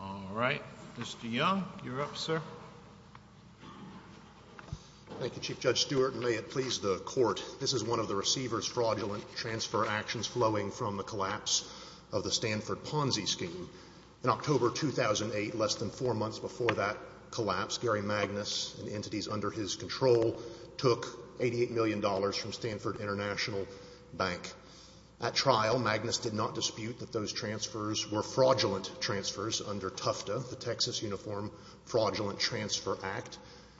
All right. Mr. Young, you're up, sir. Thank you, Chief Judge Stewart, and may it please the Court, this is one of the receiver's fraudulent transfer actions flowing from the collapse of the Stanford Ponzi scheme. In October 2008, less than four months before that collapse, Gary Magnus and entities under his control took $88 million from Stanford International Bank. At trial, Magnus did not dispute that those transfers were fraudulent transfers under TUFTA, the Texas Uniform Fraudulent Transfer Act.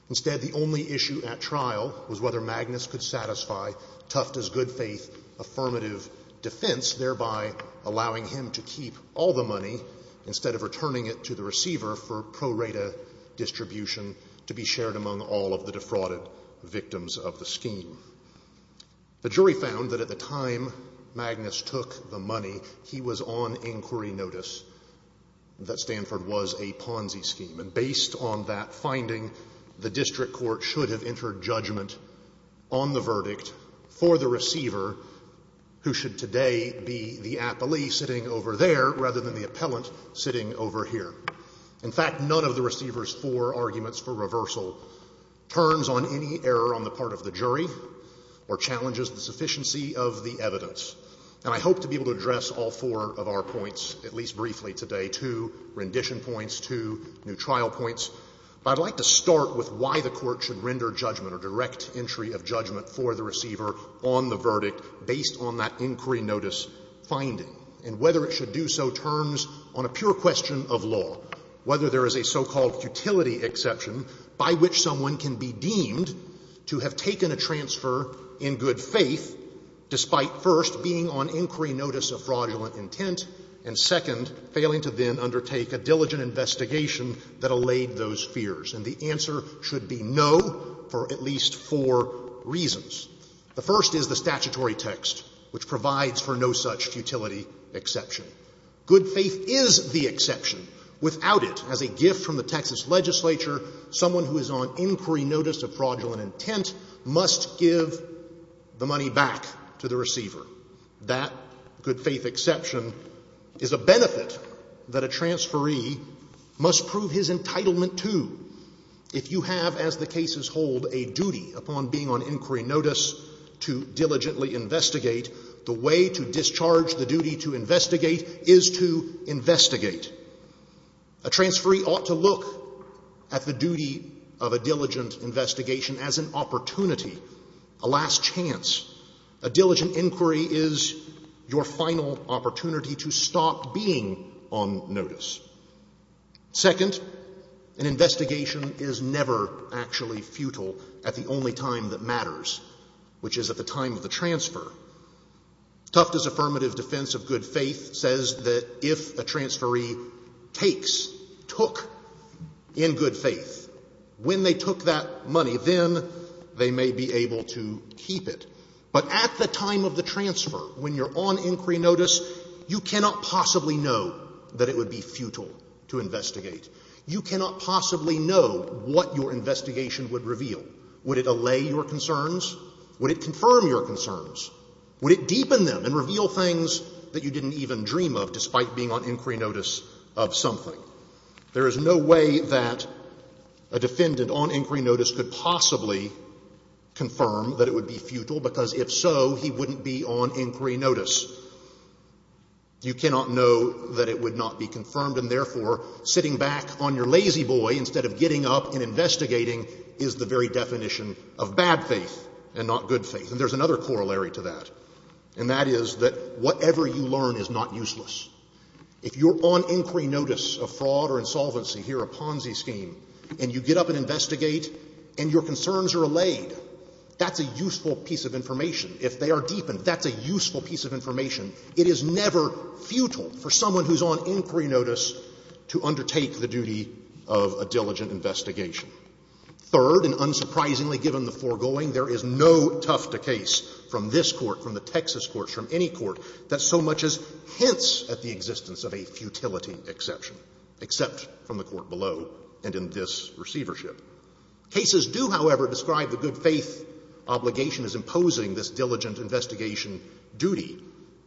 Instead, the only issue at trial was whether Magnus could satisfy TUFTA's good-faith affirmative defense, thereby allowing him to keep all the money instead of returning it to the receiver for pro rata distribution to be shared among all of the defrauded victims of the scheme. The jury found that at the time Magnus took the money, he was on inquiry notice that Stanford was a Ponzi scheme. And based on that finding, the district court should have entered judgment on the verdict for the receiver, who should today be the appellee sitting over there rather than the appellant sitting over here. In fact, none of the receiver's four arguments for reversal turns on any error on the part of the jury or challenges the sufficiency of the evidence. And I hope to be able to address all four of our points, at least briefly today, two rendition points, two new trial points. But I'd like to start with why the court should render judgment or direct entry of judgment for the receiver on the verdict based on that inquiry notice finding and whether it should do so turns on a pure question of law, whether there is a so-called futility exception by which someone can be deemed to have taken a transfer in good faith despite, first, being on inquiry notice of fraudulent intent and, second, failing to then undertake a diligent investigation that allayed those fears. And the answer should be no for at least four reasons. The first is the statutory text, which provides for no such futility exception. Good faith is the exception. Without it, as a gift from the Texas legislature, someone who is on inquiry notice of fraudulent intent must give the money back to the receiver. That good faith exception is a benefit that a transferee must prove his entitlement to. If you have, as the cases hold, a duty upon being on inquiry notice to diligently investigate, the way to discharge the duty to investigate is to investigate. A transferee ought to look at the duty of a diligent investigation as an opportunity, a last chance. A diligent inquiry is your final opportunity to stop being on notice. Second, an investigation is never actually futile at the only time that matters, which is at the time of the transfer. Tufte's affirmative defense of good faith says that if a transferee takes, took, in good faith, when they took that money, then they may be able to keep it. But at the time of the transfer, when you're on inquiry notice, you cannot possibly know that it would be futile to investigate. You cannot possibly know what your investigation would reveal. Would it allay your concerns? Would it confirm your concerns? Would it deepen them and reveal things that you didn't even dream of despite being on inquiry notice of something? There is no way that a defendant on inquiry notice could possibly confirm that it would be futile, because if so, he wouldn't be on inquiry notice. You cannot know that it would not be confirmed, and therefore, sitting back on your investigating is the very definition of bad faith and not good faith. And there's another corollary to that, and that is that whatever you learn is not useless. If you're on inquiry notice of fraud or insolvency, here a Ponzi scheme, and you get up and investigate and your concerns are allayed, that's a useful piece of information. If they are deepened, that's a useful piece of information. It is never futile for someone who's on inquiry notice to undertake the duty of a diligent investigation. Third, and unsurprisingly given the foregoing, there is no tuft of case from this Court, from the Texas courts, from any court that so much as hints at the existence of a futility exception, except from the court below and in this receivership. Cases do, however, describe the good faith obligation as imposing this diligent investigation duty,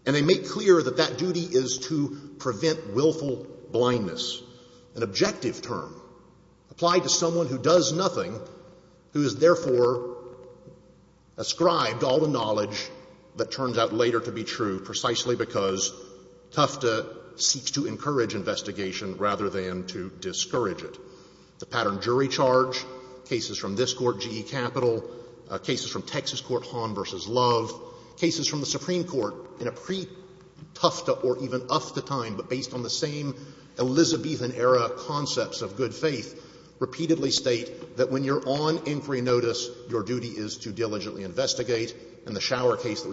and they make clear that that duty is to prevent willful blindness. An objective term applied to someone who does nothing, who is therefore ascribed all the knowledge that turns out later to be true precisely because Tufta seeks to encourage investigation rather than to discourage it. The pattern jury charge, cases from this Court, GE Capital, cases from Texas Court, Hahn v. Love, cases from the Supreme Court in a pre-Tufta or even Ufta time, but based on the same Elizabethan-era concepts of good faith, repeatedly state that when you're on inquiry notice, your duty is to diligently investigate, and the shower case that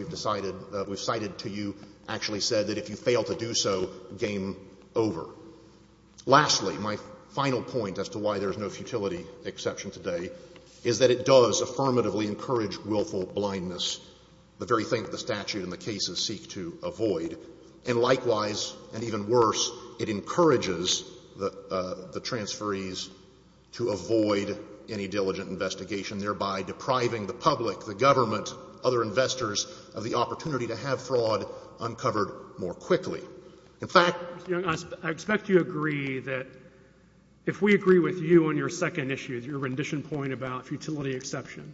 we've cited to you actually said that if you fail to do so, game over. Lastly, my final point as to why there is no futility exception today is that it does encourage the transferees to avoid any diligent investigation, thereby depriving the public, the government, other investors of the opportunity to have fraud uncovered more quickly. In fact — I expect you agree that if we agree with you on your second issue, your rendition point about futility exception,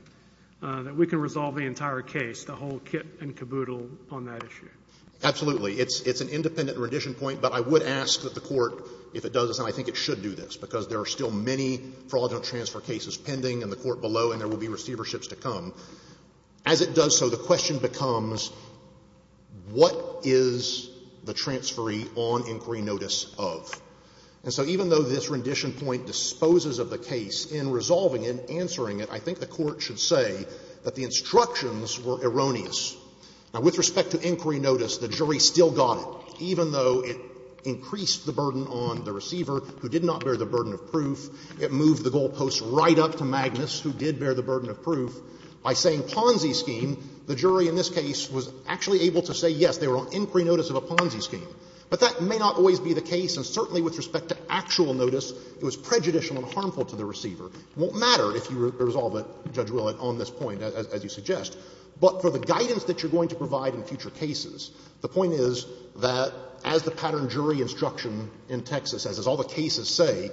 that we can resolve the entire case, the whole kit and caboodle on that issue. Absolutely. It's an independent rendition point, but I would ask that the Court, if it does this and I think it should do this, because there are still many fraudulent transfer cases pending in the Court below and there will be receiverships to come. As it does so, the question becomes, what is the transferee on inquiry notice of? And so even though this rendition point disposes of the case in resolving it and answering it, I think the Court should say that the instructions were erroneous. Now, with respect to inquiry notice, the jury still got it. Even though it increased the burden on the receiver, who did not bear the burden of proof, it moved the goalposts right up to Magnus, who did bear the burden of proof. By saying Ponzi scheme, the jury in this case was actually able to say, yes, they were on inquiry notice of a Ponzi scheme. But that may not always be the case. And certainly with respect to actual notice, it was prejudicial and harmful to the receiver. It won't matter if you resolve it, Judge Willett, on this point, as you suggest. But for the guidance that you're going to provide in future cases, the point is that as the pattern jury instruction in Texas says, as all the cases say,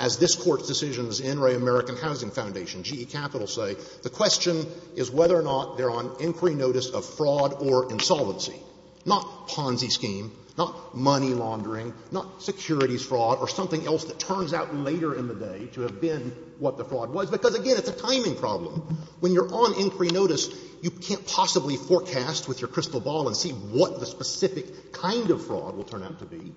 as this Court's decisions in Ray American Housing Foundation, GE Capital say, the question is whether or not they're on inquiry notice of fraud or insolvency, not Ponzi scheme, not money laundering, not securities fraud or something else that turns out later in the day to have been what the fraud was. Because, again, it's a timing problem. When you're on inquiry notice, you can't possibly forecast with your crystal ball and see what the specific kind of fraud will turn out to be.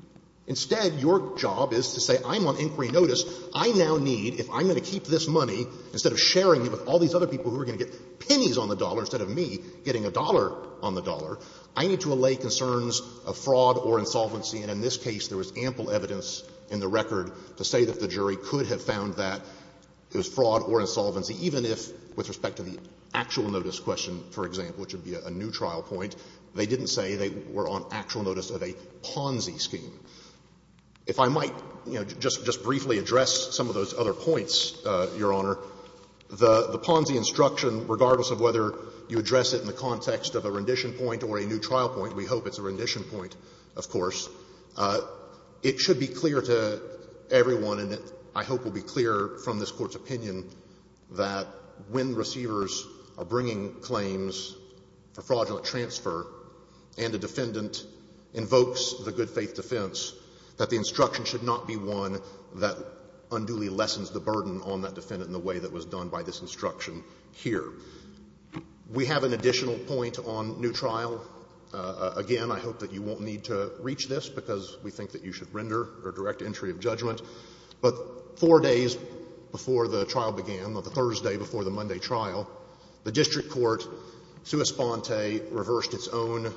Instead, your job is to say, I'm on inquiry notice. I now need, if I'm going to keep this money, instead of sharing it with all these other people who are going to get pennies on the dollar instead of me getting a dollar on the dollar, I need to allay concerns of fraud or insolvency. And in this case, there was ample evidence in the record to say that the jury could have found that it was fraud or insolvency, even if, with respect to the actual notice question, for example, which would be a new trial point, they didn't say they were on actual notice of a Ponzi scheme. If I might, you know, just briefly address some of those other points, Your Honor, the Ponzi instruction, regardless of whether you address it in the context of a rendition point or a new trial point, we hope it's a rendition point, of course, it should be clear to everyone, and I hope will be clear from this Court's opinion, that when receivers are bringing claims for fraudulent transfer and a defendant invokes the good faith defense, that the instruction should not be one that unduly lessens the burden on that defendant in the way that was done by this instruction here. We have an additional point on new trial. Again, I hope that you won't need to reach this because we think that you should render a direct entry of judgment. But four days before the trial began, the Thursday before the Monday trial, the district court, sua sponte, reversed its own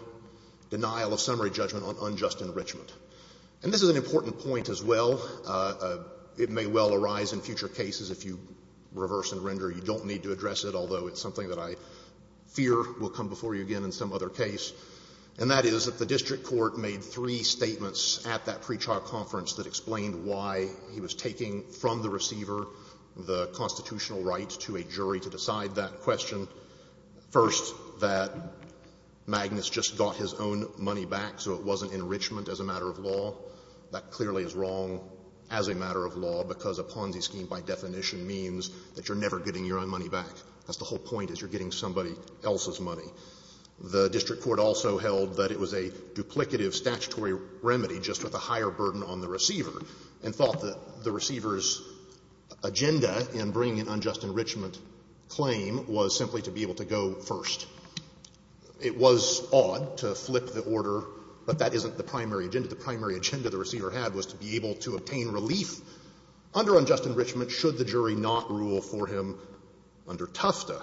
denial of summary judgment on unjust enrichment. And this is an important point as well. It may well arise in future cases if you reverse and render. You don't need to address it, although it's something that I fear will come before you again in some other case. And that is that the district court made three statements at that pre-trial conference that explained why he was taking from the receiver the constitutional right to a jury to decide that question. First, that Magnus just got his own money back, so it wasn't enrichment as a matter of law. That clearly is wrong as a matter of law, because a Ponzi scheme by definition means that you're never getting your own money back. That's the whole point, is you're getting somebody else's money. The district court also held that it was a duplicative statutory remedy just with a higher burden on the receiver, and thought that the receiver's agenda in bringing an unjust enrichment claim was simply to be able to go first. It was odd to flip the order, but that isn't the primary agenda. The primary agenda the receiver had was to be able to obtain relief under unjust enrichment should the jury not rule for him under Tufta.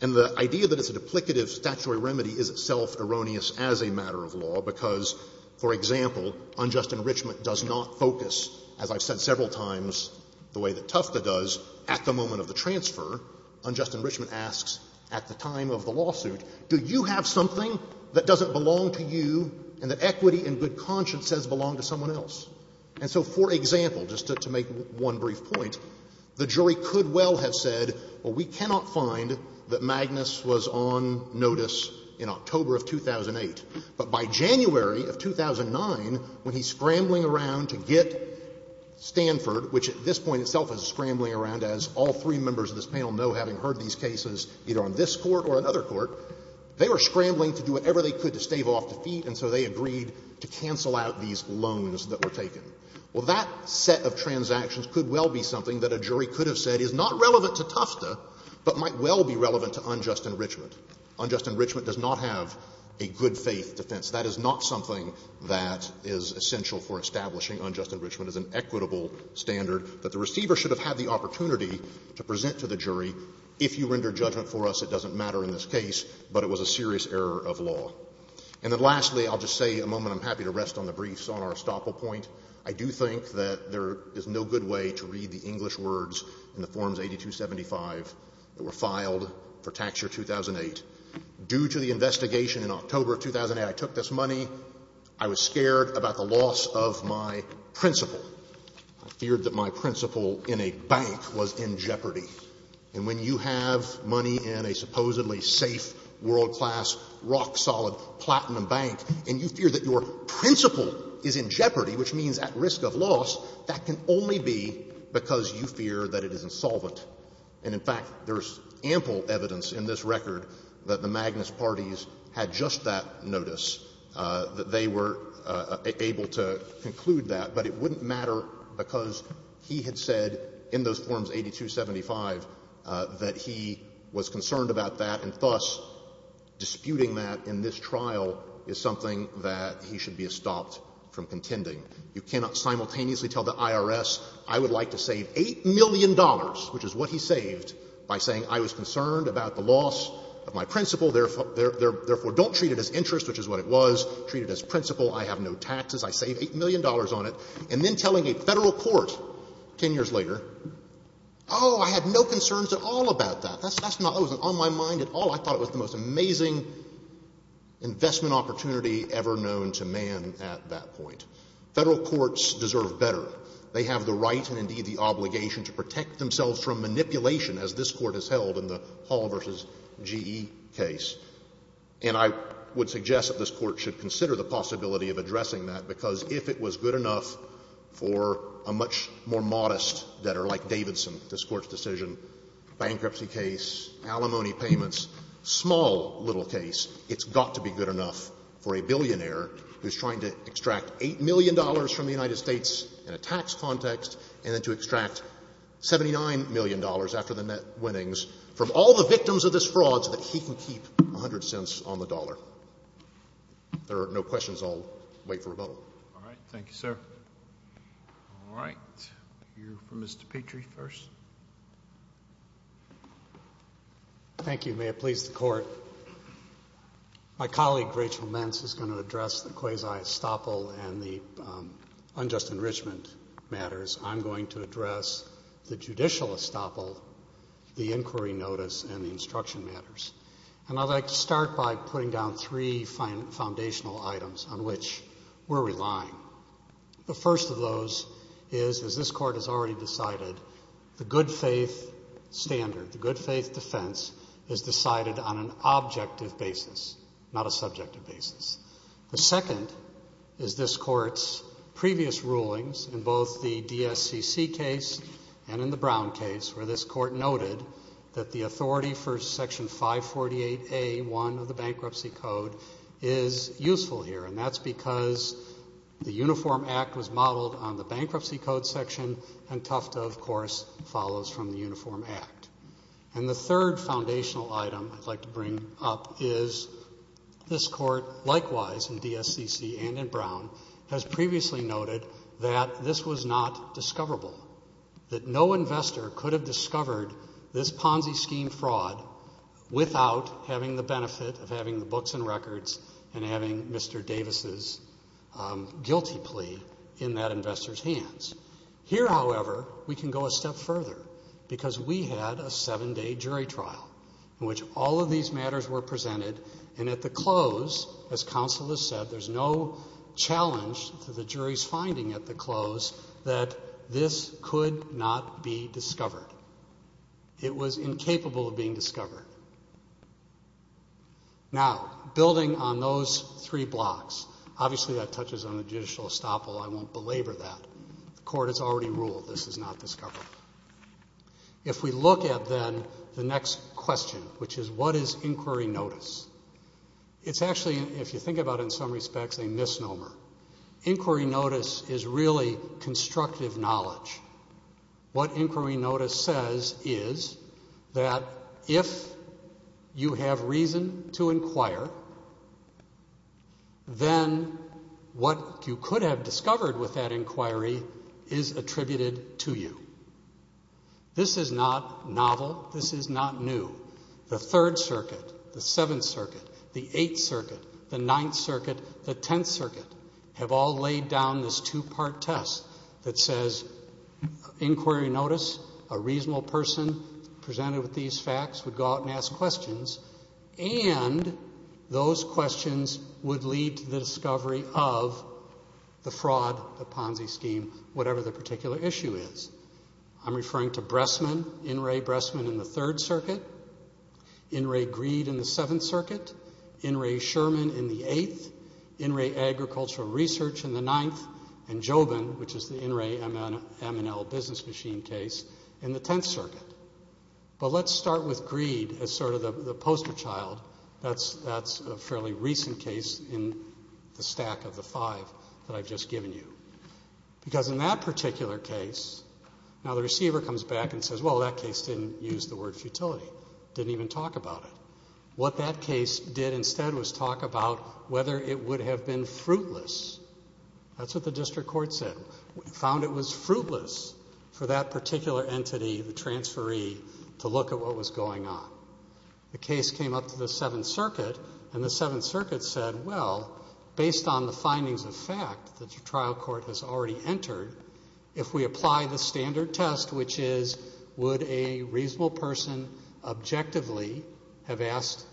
And the idea that it's a duplicative statutory remedy is itself erroneous as a matter of law, because, for example, unjust enrichment does not focus, as I've said several times, the way that Tufta does at the moment of the transfer. Unjust enrichment asks at the time of the lawsuit, do you have something that doesn't belong to you and that equity and good conscience says belong to someone else? And so, for example, just to make one brief point, the jury could well have said, well, we cannot find that Magnus was on notice in October of 2008, but by January of 2009, when he's scrambling around to get Stanford, which at this point itself is scrambling around, as all three members of this panel know, having heard these cases either on this Court or another Court, they were scrambling to do whatever they could to stave off defeat, and so they agreed to cancel out these loans that were taken. Well, that set of transactions could well be something that a jury could have said is not relevant to Tufta, but might well be relevant to unjust enrichment. Unjust enrichment does not have a good-faith defense. That is not something that is essential for establishing unjust enrichment as an equitable standard that the receiver should have had the opportunity to present to the jury, if you render judgment for us, it doesn't matter in this And then lastly, I'll just say a moment. I'm happy to rest on the briefs on our estoppel point. I do think that there is no good way to read the English words in the Forms 8275 that were filed for Tax Year 2008. Due to the investigation in October of 2008, I took this money. I was scared about the loss of my principal. I feared that my principal in a bank was in jeopardy. And when you have money in a supposedly safe, world-class, rock-solid, platinum bank, and you fear that your principal is in jeopardy, which means at risk of loss, that can only be because you fear that it is insolvent. And in fact, there is ample evidence in this record that the Magnus parties had just that notice, that they were able to conclude that. But it wouldn't matter because he had said in those Forms 8275 that he was concerned about that, and thus, disputing that in this trial is something that he should be estopped from contending. You cannot simultaneously tell the IRS, I would like to save $8 million, which is what he saved, by saying I was concerned about the loss of my principal, therefore don't treat it as interest, which is what it was. Treat it as principal. I have no taxes. I save $8 million on it. And then telling a Federal court 10 years later, oh, I had no concerns at all about that. That's not what was on my mind at all. I thought it was the most amazing investment opportunity ever known to man at that point. Federal courts deserve better. They have the right and, indeed, the obligation to protect themselves from manipulation, as this Court has held in the Hall v. G.E. case. And I would suggest that this Court should consider the possibility of addressing that, because if it was good enough for a much more modest debtor, like Davidson, this Court's decision, bankruptcy case, alimony payments, small little case, it's got to be good enough for a billionaire who's trying to extract $8 million from the United States in a tax context, and then to extract $79 million after the net winnings from all the victims of this fraud so that he can keep the money. I'm 100 cents on the dollar. If there are no questions, I'll wait for a vote. All right. Thank you, sir. All right. We'll hear from Mr. Petrie first. Thank you. May it please the Court. My colleague, Rachel Mentz, is going to address the quasi-estoppel and the unjust enrichment matters. I'm going to address the judicial estoppel, the inquiry notice, and the instruction matters. And I'd like to start by putting down three foundational items on which we're relying. The first of those is, as this Court has already decided, the good faith standard, the good faith defense is decided on an objective basis, not a subjective basis. The second is this Court's previous rulings in both the DSCC case and in the 548A1 of the Bankruptcy Code is useful here. And that's because the Uniform Act was modeled on the Bankruptcy Code section, and Tufta, of course, follows from the Uniform Act. And the third foundational item I'd like to bring up is this Court, likewise in DSCC and in Brown, has previously noted that this was not discoverable, that no benefit of having the books and records and having Mr. Davis' guilty plea in that investor's hands. Here, however, we can go a step further because we had a seven-day jury trial in which all of these matters were presented. And at the close, as counsel has said, there's no challenge to the jury's finding at the close that this could not be discovered. It was incapable of being discovered. Now, building on those three blocks, obviously that touches on the judicial estoppel. I won't belabor that. The Court has already ruled this is not discoverable. If we look at, then, the next question, which is what is inquiry notice, it's actually, if you think about it in some respects, a misnomer. Inquiry notice is really constructive knowledge. What inquiry notice says is that if you have reason to inquire, then what you could have discovered with that inquiry is attributed to you. This is not novel. This is not new. The Third Circuit, the Seventh Circuit, the Eighth Circuit, the Ninth Circuit, the Tenth Circuit, have all laid down this two-part test that says inquiry notice, a reasonable person presented with these facts would go out and ask questions, and those questions would lead to the discovery of the fraud, the Ponzi scheme, whatever the particular issue is. I'm referring to Bressman, In re Bressman in the Third Circuit, In re Greed in the Seventh Circuit, In re Sherman in the Eighth, In re Agricultural Research in the Ninth, and Jobin, which is the In re M&L business machine case, in the Tenth Circuit. But let's start with Greed as sort of the poster child. That's a fairly recent case in the stack of the five that I've just given you. Because in that particular case, now the receiver comes back and says, well, that case didn't use the word futility, didn't even talk about it. What that case did instead was talk about whether it would have been fruitless. That's what the District Court said. We found it was fruitless for that particular entity, the transferee, to look at what was going on. The case came up to the Seventh Circuit, and the Seventh Circuit said, well, based on the findings of fact that the trial court has already entered, if we asked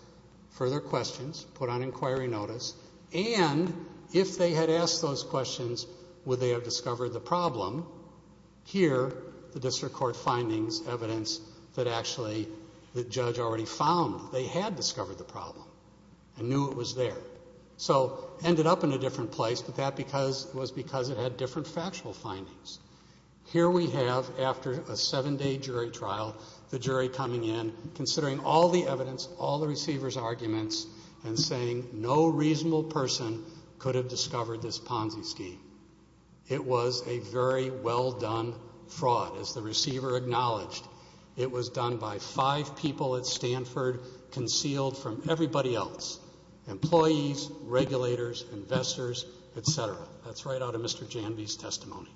further questions, put on inquiry notice, and if they had asked those questions, would they have discovered the problem? Here, the District Court findings, evidence that actually the judge already found they had discovered the problem and knew it was there. So it ended up in a different place, but that was because it had different factual findings. Here we have, after a seven-day jury trial, the jury coming in, considering all the evidence, all the receiver's arguments, and saying no reasonable person could have discovered this Ponzi scheme. It was a very well-done fraud, as the receiver acknowledged. It was done by five people at Stanford, concealed from everybody else, employees, regulators, investors, et cetera. That's right out of Mr. Janvey's testimony.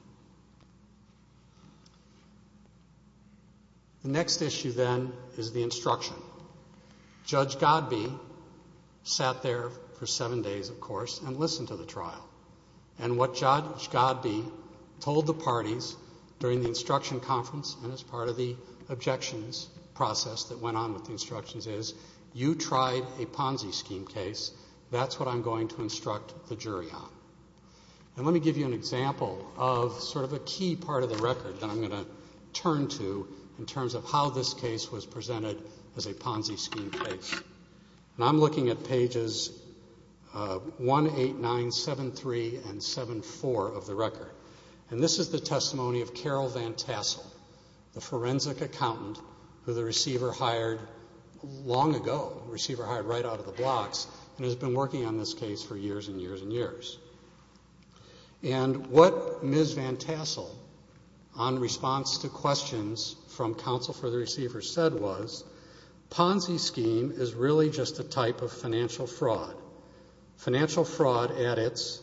The next issue, then, is the instruction. Judge Godbee sat there for seven days, of course, and listened to the trial. And what Judge Godbee told the parties during the instruction conference and as part of the objections process that went on with the instructions is, you tried a Ponzi scheme case. That's what I'm going to instruct the jury on. Let me give you an example of sort of a key part of the record that I'm going to turn to in terms of how this case was presented as a Ponzi scheme case. I'm looking at pages 1, 8, 9, 7, 3, and 7, 4 of the record. This is the testimony of Carol Van Tassel, the forensic accountant who the receiver hired long ago, the receiver hired right out of the blocks, and has been working on this case for years and years and years. And what Ms. Van Tassel, on response to questions from counsel for the receiver, said was, Ponzi scheme is really just a type of financial fraud. Financial fraud at its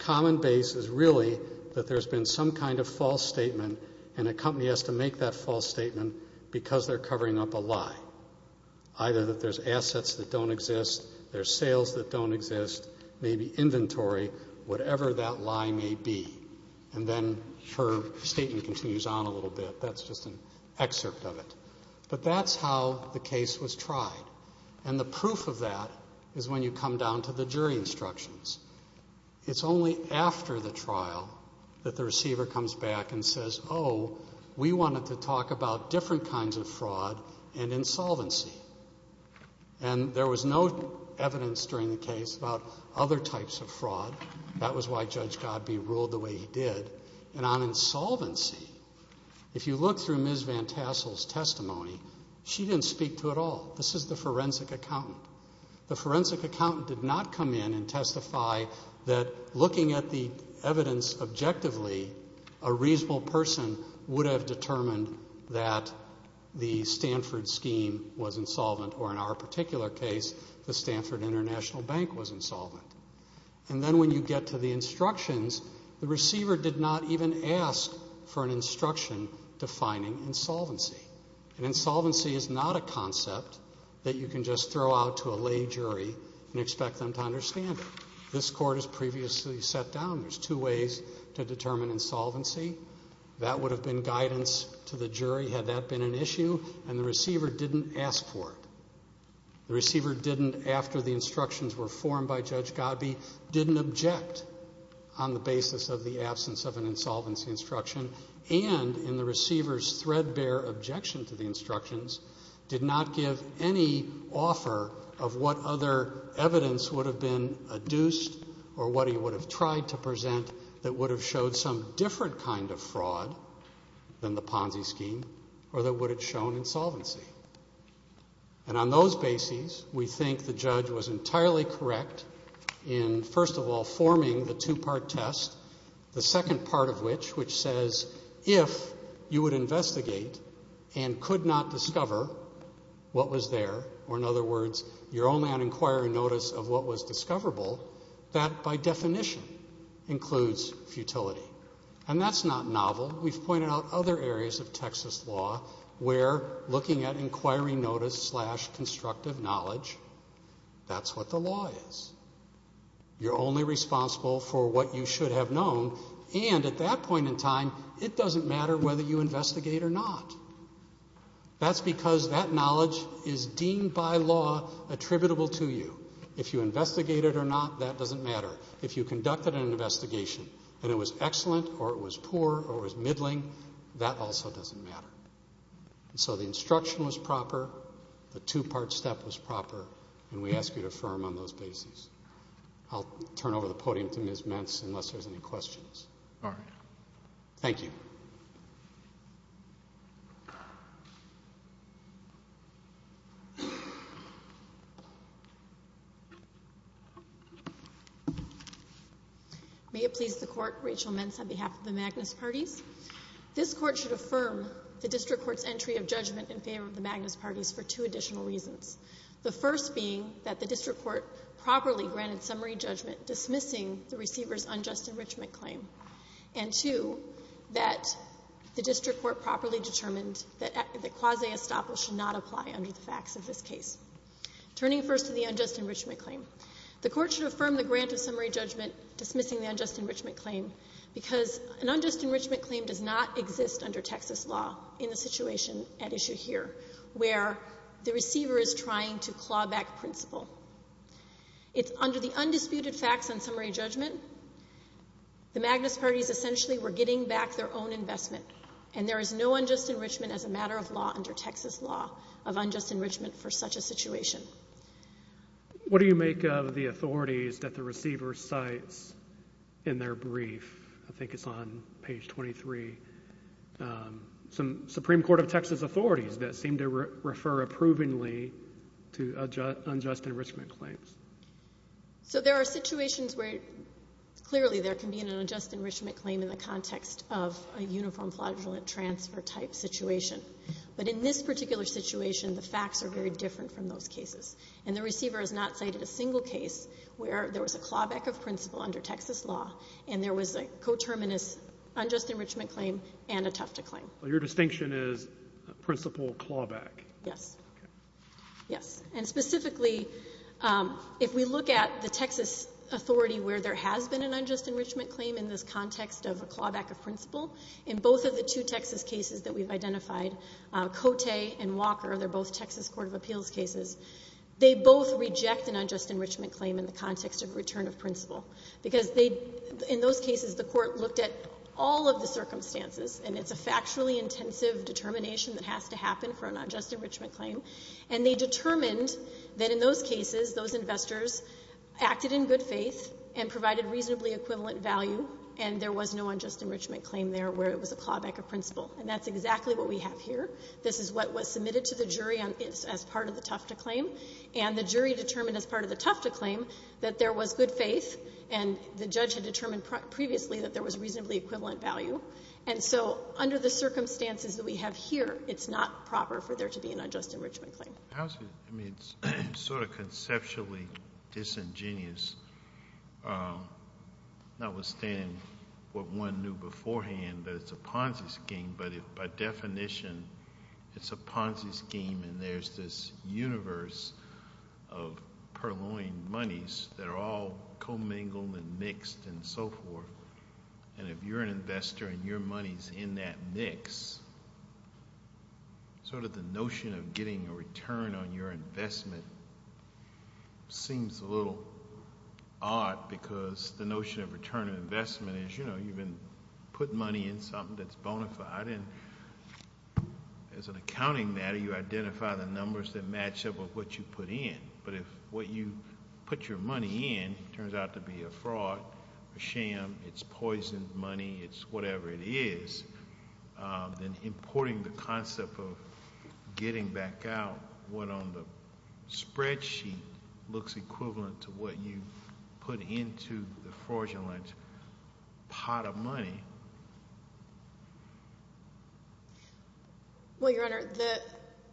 common base is really that there's been some kind of false statement and a company has to make that false statement because they're covering up a lie. Either that there's assets that don't exist, there's sales that don't exist, maybe inventory, whatever that lie may be. And then her statement continues on a little bit. That's just an excerpt of it. But that's how the case was tried. And the proof of that is when you come down to the jury instructions. It's only after the trial that the receiver comes back and says, oh, we wanted to talk about different kinds of fraud and insolvency. And there was no evidence during the case about other types of fraud. That was why Judge Godbee ruled the way he did. And on insolvency, if you look through Ms. Van Tassel's testimony, she didn't speak to it at all. This is the forensic accountant. The forensic accountant did not come in and testify that looking at the evidence objectively, a reasonable person would have determined that the Stanford scheme was insolvent, or in our particular case, the Stanford International Bank was insolvent. And then when you get to the instructions, the receiver did not even ask for an instruction defining insolvency. And insolvency is not a concept that you can just throw out to a lay jury and expect them to understand it. This court has previously sat down. There's two ways to determine insolvency. That would have been guidance to the jury had that been an issue, and the receiver didn't ask for it. The receiver didn't, after the instructions were formed by Judge Godbee, didn't object on the basis of the absence of an insolvency instruction, and in the receiver's threadbare objection to the instructions, did not give any offer of what other evidence would have been adduced or what he would have tried to present that would have showed some different kind of fraud than the Ponzi scheme or that would have shown insolvency. And on those bases, we think the judge was entirely correct in, first of all, forming the two-part test, the second part of which, which says if you would investigate and could not discover what was there, or in other words, your own land inquiry notice of what was discoverable, that by definition includes futility. And that's not novel. We've pointed out other areas of Texas law where looking at inquiry notice slash constructive knowledge, that's what the law is. You're only responsible for what you should have known, and at that point in time, it doesn't matter whether you investigate or not. That's because that knowledge is deemed by law attributable to you. If you investigate it or not, that doesn't matter. If you conducted an investigation and it was excellent or it was poor or it was middling, that also doesn't matter. So the instruction was proper, the two-part step was proper, and we ask you to affirm on those bases. I'll turn over the podium to Ms. Metz unless there's any questions. All right. Thank you. May it please the Court, Rachel Metz on behalf of the Magnus Parties. This Court should affirm the district court's entry of judgment in favor of the Magnus Parties for two additional reasons, the first being that the district court properly granted summary judgment dismissing the receiver's unjust enrichment claim, and two, that the district court properly determined that quasi estoppel should not apply under the facts of this case. Turning first to the unjust enrichment claim, the Court should affirm the grant of summary judgment dismissing the unjust enrichment claim because an unjust enrichment claim does not exist under Texas law in the situation at issue here, where the receiver is trying to claw back principle. It's under the undisputed facts on summary judgment. The Magnus Parties essentially were getting back their own investment, and there is no unjust enrichment as a matter of law under Texas law of unjust enrichment for such a situation. What do you make of the authorities that the receiver cites in their brief? I think it's on page 23. Some Supreme Court of Texas authorities that seem to refer approvingly to unjust enrichment claims. So there are situations where clearly there can be an unjust enrichment claim in the context of a uniform flagellant transfer type situation. But in this particular situation, the facts are very different from those cases, and the receiver has not cited a single case where there was a clawback of principle under Texas law and there was a coterminous unjust enrichment claim and a Tufta claim. Your distinction is principle clawback. Yes. Okay. Yes. And specifically, if we look at the Texas authority where there has been an unjust enrichment claim in this context of a clawback of principle, in both of the two Texas cases that we've identified, Cote and Walker, they're both Texas court of appeals cases, they both reject an unjust enrichment claim in the context of return of principle because they, in those cases, the court looked at all of the circumstances, and it's a factually intensive determination that has to happen for an unjust enrichment claim. And they determined that in those cases, those investors acted in good faith and provided reasonably equivalent value, and there was no unjust enrichment claim there where it was a clawback of principle. And that's exactly what we have here. This is what was submitted to the jury as part of the Tufta claim, and the jury determined as part of the Tufta claim that there was good faith, and the judge had determined previously that there was reasonably equivalent value. And so, under the circumstances that we have here, it's not proper for there to be an unjust enrichment claim. It's sort of conceptually disingenuous, notwithstanding what one knew beforehand, that it's a Ponzi scheme, but by definition, it's a Ponzi scheme, and there's this universe of purloined monies that are all commingled and mixed and so forth. And if you're an investor and your money's in that mix, sort of the notion of getting a return on your investment seems a little odd because the notion of return on investment is, you know, you've been putting money in something that's bona fide, and as an accounting matter, you identify the numbers that match up with what you put in. But if what you put your money in turns out to be a fraud, a sham, it's poisoned money, it's whatever it is, then importing the concept of getting back out what on the spreadsheet looks equivalent to what you put into the fraudulent pot of money. Well, Your Honor,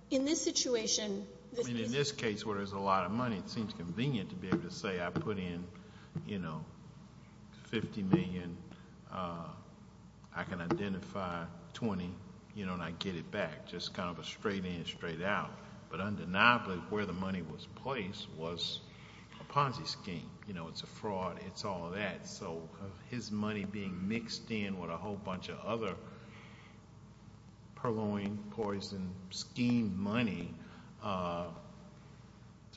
in this situation, this case where there's a lot of money, it seems convenient to be able to say I put in, you know, 50 million, I can identify 20, you know, and I get it back. Just kind of a straight in, straight out. But undeniably, where the money was placed was a Ponzi scheme. You know, it's a fraud, it's all of that. So his money being mixed in with a whole bunch of other purloined, poisoned scheme money,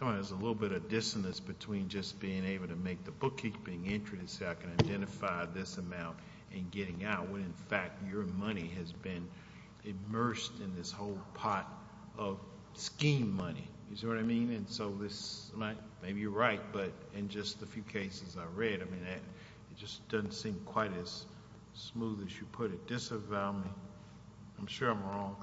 there's a little bit of dissonance between just being able to make the bookkeeping entry to say I can identify this amount and getting out when, in fact, your money has been immersed in this whole pot of scheme money. You see what I mean? And so this, maybe you're right, but in just the few cases I read, I mean, it just doesn't seem quite as smooth as you put it. Disavow me. I'm sure I'm wrong.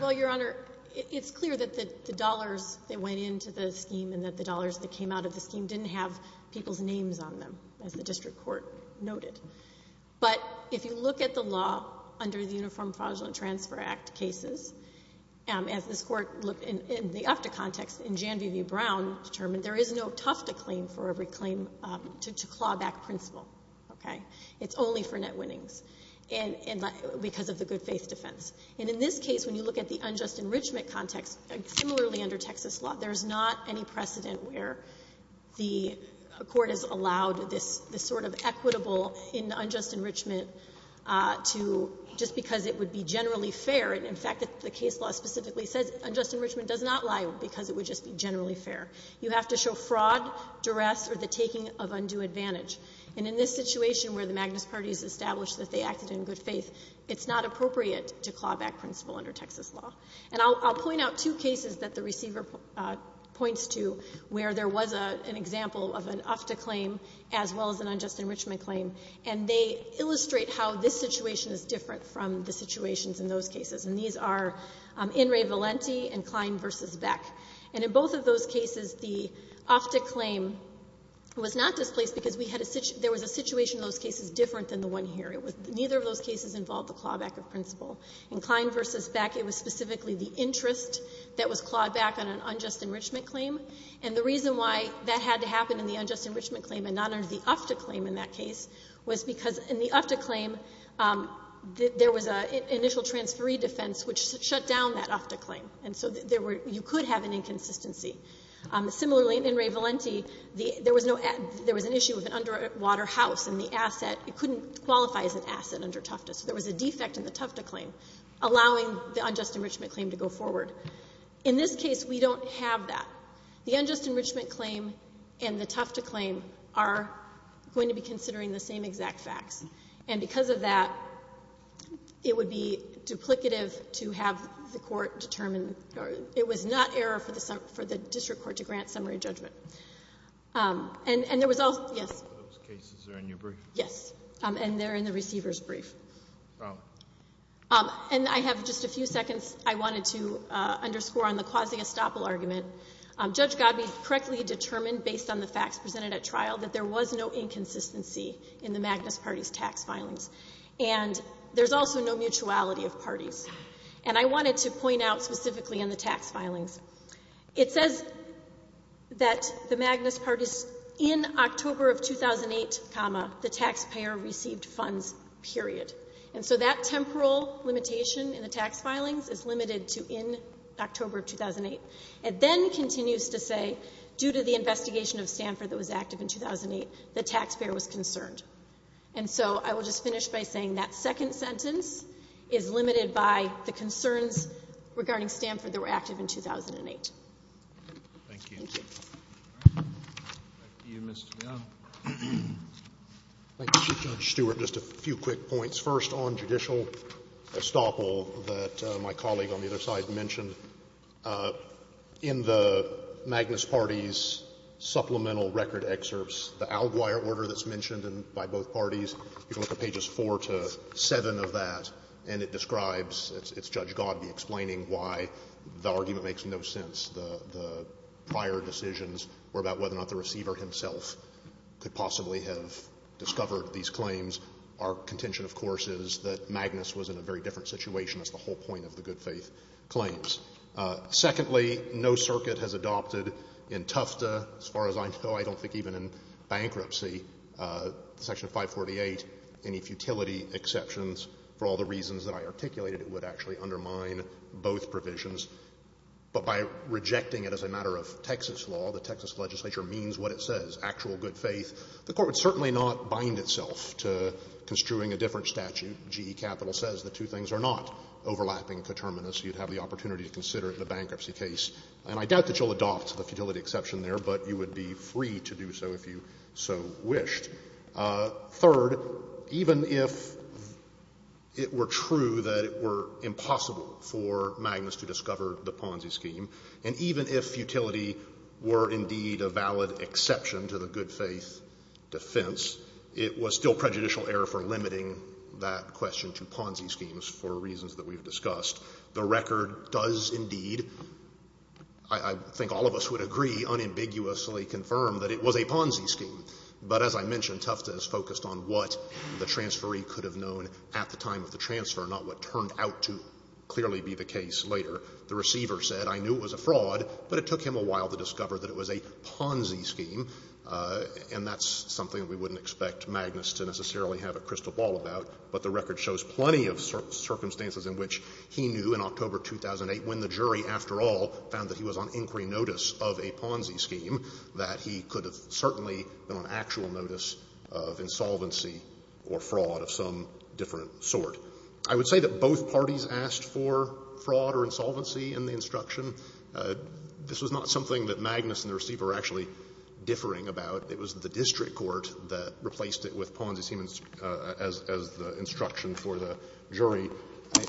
Well, Your Honor, it's clear that the dollars that went into the scheme and that the dollars that came out of the scheme didn't have people's names on them, as the district court noted. But if you look at the law under the Uniform Fraudulent Transfer Act cases, as this Court looked in the UFTA context, in Jan V. V. Brown determined, there is no Tufta claim for every claim to clawback principle, okay? It's only for net winnings, and because of the good-faith defense. And in this case, when you look at the unjust enrichment context, similarly under Texas law, there's not any precedent where the Court has allowed this sort of equitable in unjust enrichment to just because it would be generally fair. And, in fact, the case law specifically says unjust enrichment does not lie because it would just be generally fair. You have to show fraud, duress, or the taking of undue advantage. And in this situation where the Magnus parties established that they acted in good faith, it's not appropriate to clawback principle under Texas law. And I'll point out two cases that the receiver points to where there was an example of an UFTA claim as well as an unjust enrichment claim, and they illustrate how this situation is different from the situations in those cases. And these are In re Valenti and Klein v. Beck. And in both of those cases, the UFTA claim was not displaced because we had a — there was a situation in those cases different than the one here. It was — neither of those cases involved the clawback of principle. In Klein v. Beck, it was specifically the interest that was clawed back on an unjust enrichment claim. And the reason why that had to happen in the unjust enrichment claim and not under the UFTA claim in that case was because in the UFTA claim, there was an initial transferee defense which shut down that UFTA claim. And so there were — you could have an inconsistency. Similarly, in In re Valenti, there was no — there was an issue with an underwater house in the asset. It couldn't qualify as an asset under Tufta. So there was a defect in the Tufta claim allowing the unjust enrichment claim to go forward. In this case, we don't have that. The unjust enrichment claim and the Tufta claim are going to be considering the same exact facts. And because of that, it would be duplicative to have the Court determine — it was not error for the — for the district court to grant summary judgment. And there was also — yes? Those cases are in your brief? Yes. And they're in the receiver's brief. Oh. And I have just a few seconds. I wanted to underscore on the quasi-estoppel argument. Judge Godbee correctly determined, based on the facts presented at trial, that there was no inconsistency in the Magnus party's tax filings. And there's also no mutuality of parties. And I wanted to point out specifically in the tax filings, it says that the Magnus party's — in October of 2008, comma, the taxpayer received funds, period. And so that temporal limitation in the tax filings is limited to in October of 2008. It then continues to say, due to the investigation of Stanford that was active in 2008, the taxpayer was concerned. And so I will just finish by saying that second sentence is limited by the concerns regarding Stanford that were active in 2008. Thank you. Thank you. All right. Back to you, Mr. Young. Thank you, Judge Stewart. Just a few quick points. First, on judicial estoppel that my colleague on the other side mentioned, in the Magnus party's supplemental record excerpts, the Alguire order that's mentioned by both parties, you can look at pages 4 to 7 of that, and it describes, it's Judge Godbee explaining why the argument makes no sense, the prior decisions were about whether or not the receiver himself could possibly have discovered these claims. Our contention, of course, is that Magnus was in a very different situation. That's the whole point of the good faith claims. Secondly, no circuit has adopted in Tufta, as far as I know, I don't think even in bankruptcy, Section 548, any futility exceptions. For all the reasons that I articulated, it would actually undermine both provisions. But by rejecting it as a matter of Texas law, the Texas legislature means what it says, actual good faith. The Court would certainly not bind itself to construing a different statute. GE Capital says the two things are not overlapping coterminous. You'd have the opportunity to consider it in a bankruptcy case. And I doubt that you'll adopt the futility exception there, but you would be free to do so if you so wished. Third, even if it were true that it were impossible for Magnus to discover the Ponzi scheme, and even if futility were indeed a valid exception to the good faith defense, it was still prejudicial error for limiting that question to Ponzi schemes for reasons that we've discussed. The record does indeed, I think all of us would agree, unambiguously confirm that it was a Ponzi scheme. But as I mentioned, Tufte has focused on what the transferee could have known at the time of the transfer, not what turned out to clearly be the case later. The receiver said, I knew it was a fraud, but it took him a while to discover that it was a Ponzi scheme, and that's something that we wouldn't expect Magnus to necessarily have a crystal ball about. But the record shows plenty of circumstances in which he knew in October 2008, when the jury, after all, found that he was on inquiry notice of a Ponzi scheme, that he could have certainly been on actual notice of insolvency or fraud of some different sort. I would say that both parties asked for fraud or insolvency in the instruction. This was not something that Magnus and the receiver were actually differing about. It was the district court that replaced it with Ponzi scheme as the instruction for the jury.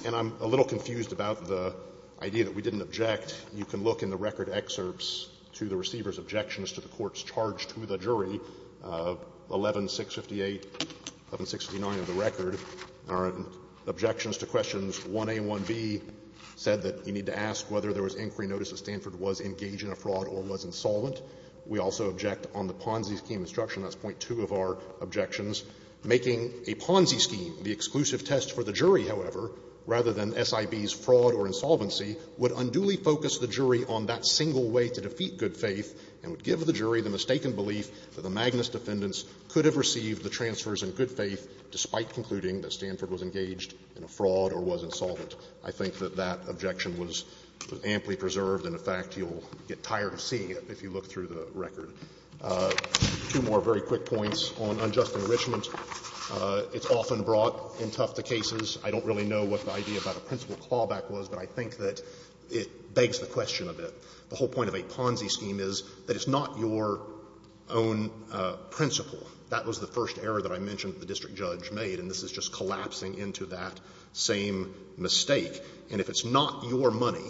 And I'm a little confused about the idea that we didn't object. You can look in the record excerpts to the receiver's objections to the court's charge to the jury, 11658, 1169 of the record, our objections to questions 1A and 1B said that you need to ask whether there was inquiry notice that Stanford was engaged in a fraud or was insolvent. We also object on the Ponzi scheme instruction. That's point two of our objections. Making a Ponzi scheme the exclusive test for the jury, however, rather than SIB's fraud or insolvency would unduly focus the jury on that single way to defeat good faith and would give the jury the mistaken belief that the Magnus defendants could have received the transfers in good faith despite concluding that Stanford was engaged in a fraud or was insolvent. I think that that objection was amply preserved, and in fact, you'll get tired of seeing it if you look through the record. Two more very quick points on unjust enrichment. It's often brought in tough to cases. I don't really know what the idea about a principal clawback was, but I think that it begs the question a bit. The whole point of a Ponzi scheme is that it's not your own principal. That was the first error that I mentioned that the district judge made, and this is just collapsing into that same mistake. And if it's not your money,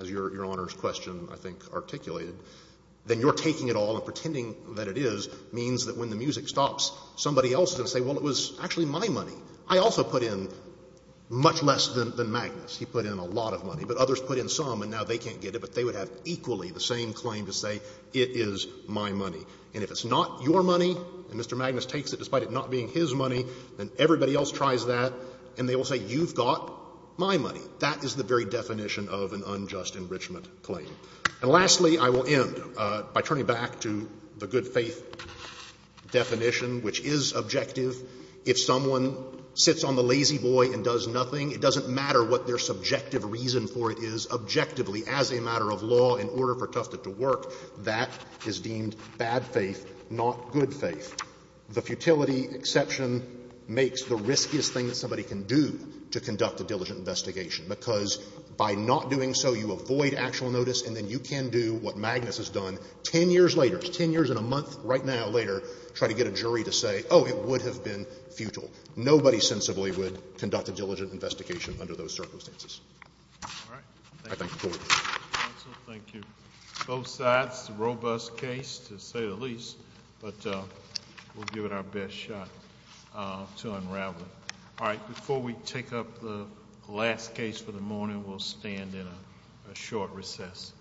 as Your Honor's question, I think, articulated, then you're taking it all and pretending that it is means that when the music stops, somebody else is going to say, well, it was actually my money. I also put in, much less than Magnus, he put in a lot of money, but others put in some and now they can't get it, but they would have equally the same claim to say, it is my money. And if it's not your money, and Mr. Magnus takes it despite it not being his money, then everybody else tries that, and they will say, you've got my money. That is the very definition of an unjust enrichment claim. And lastly, I will end by turning back to the good faith definition, which is objective faith. If someone sits on the lazy boy and does nothing, it doesn't matter what their subjective reason for it is objectively as a matter of law in order for Tufted to work. That is deemed bad faith, not good faith. The futility exception makes the riskiest thing that somebody can do to conduct a diligent investigation, because by not doing so, you avoid actual notice, and then you can do what Magnus has done 10 years later. 10 years and a month right now later, try to get a jury to say, oh, it would have been futile. Nobody sensibly would conduct a diligent investigation under those circumstances. All right. Thank you. Thank you. Both sides, robust case to say the least, but we'll give it our best shot to unravel it. All right. Before we take up the last case for the morning, we'll stand in a short recess.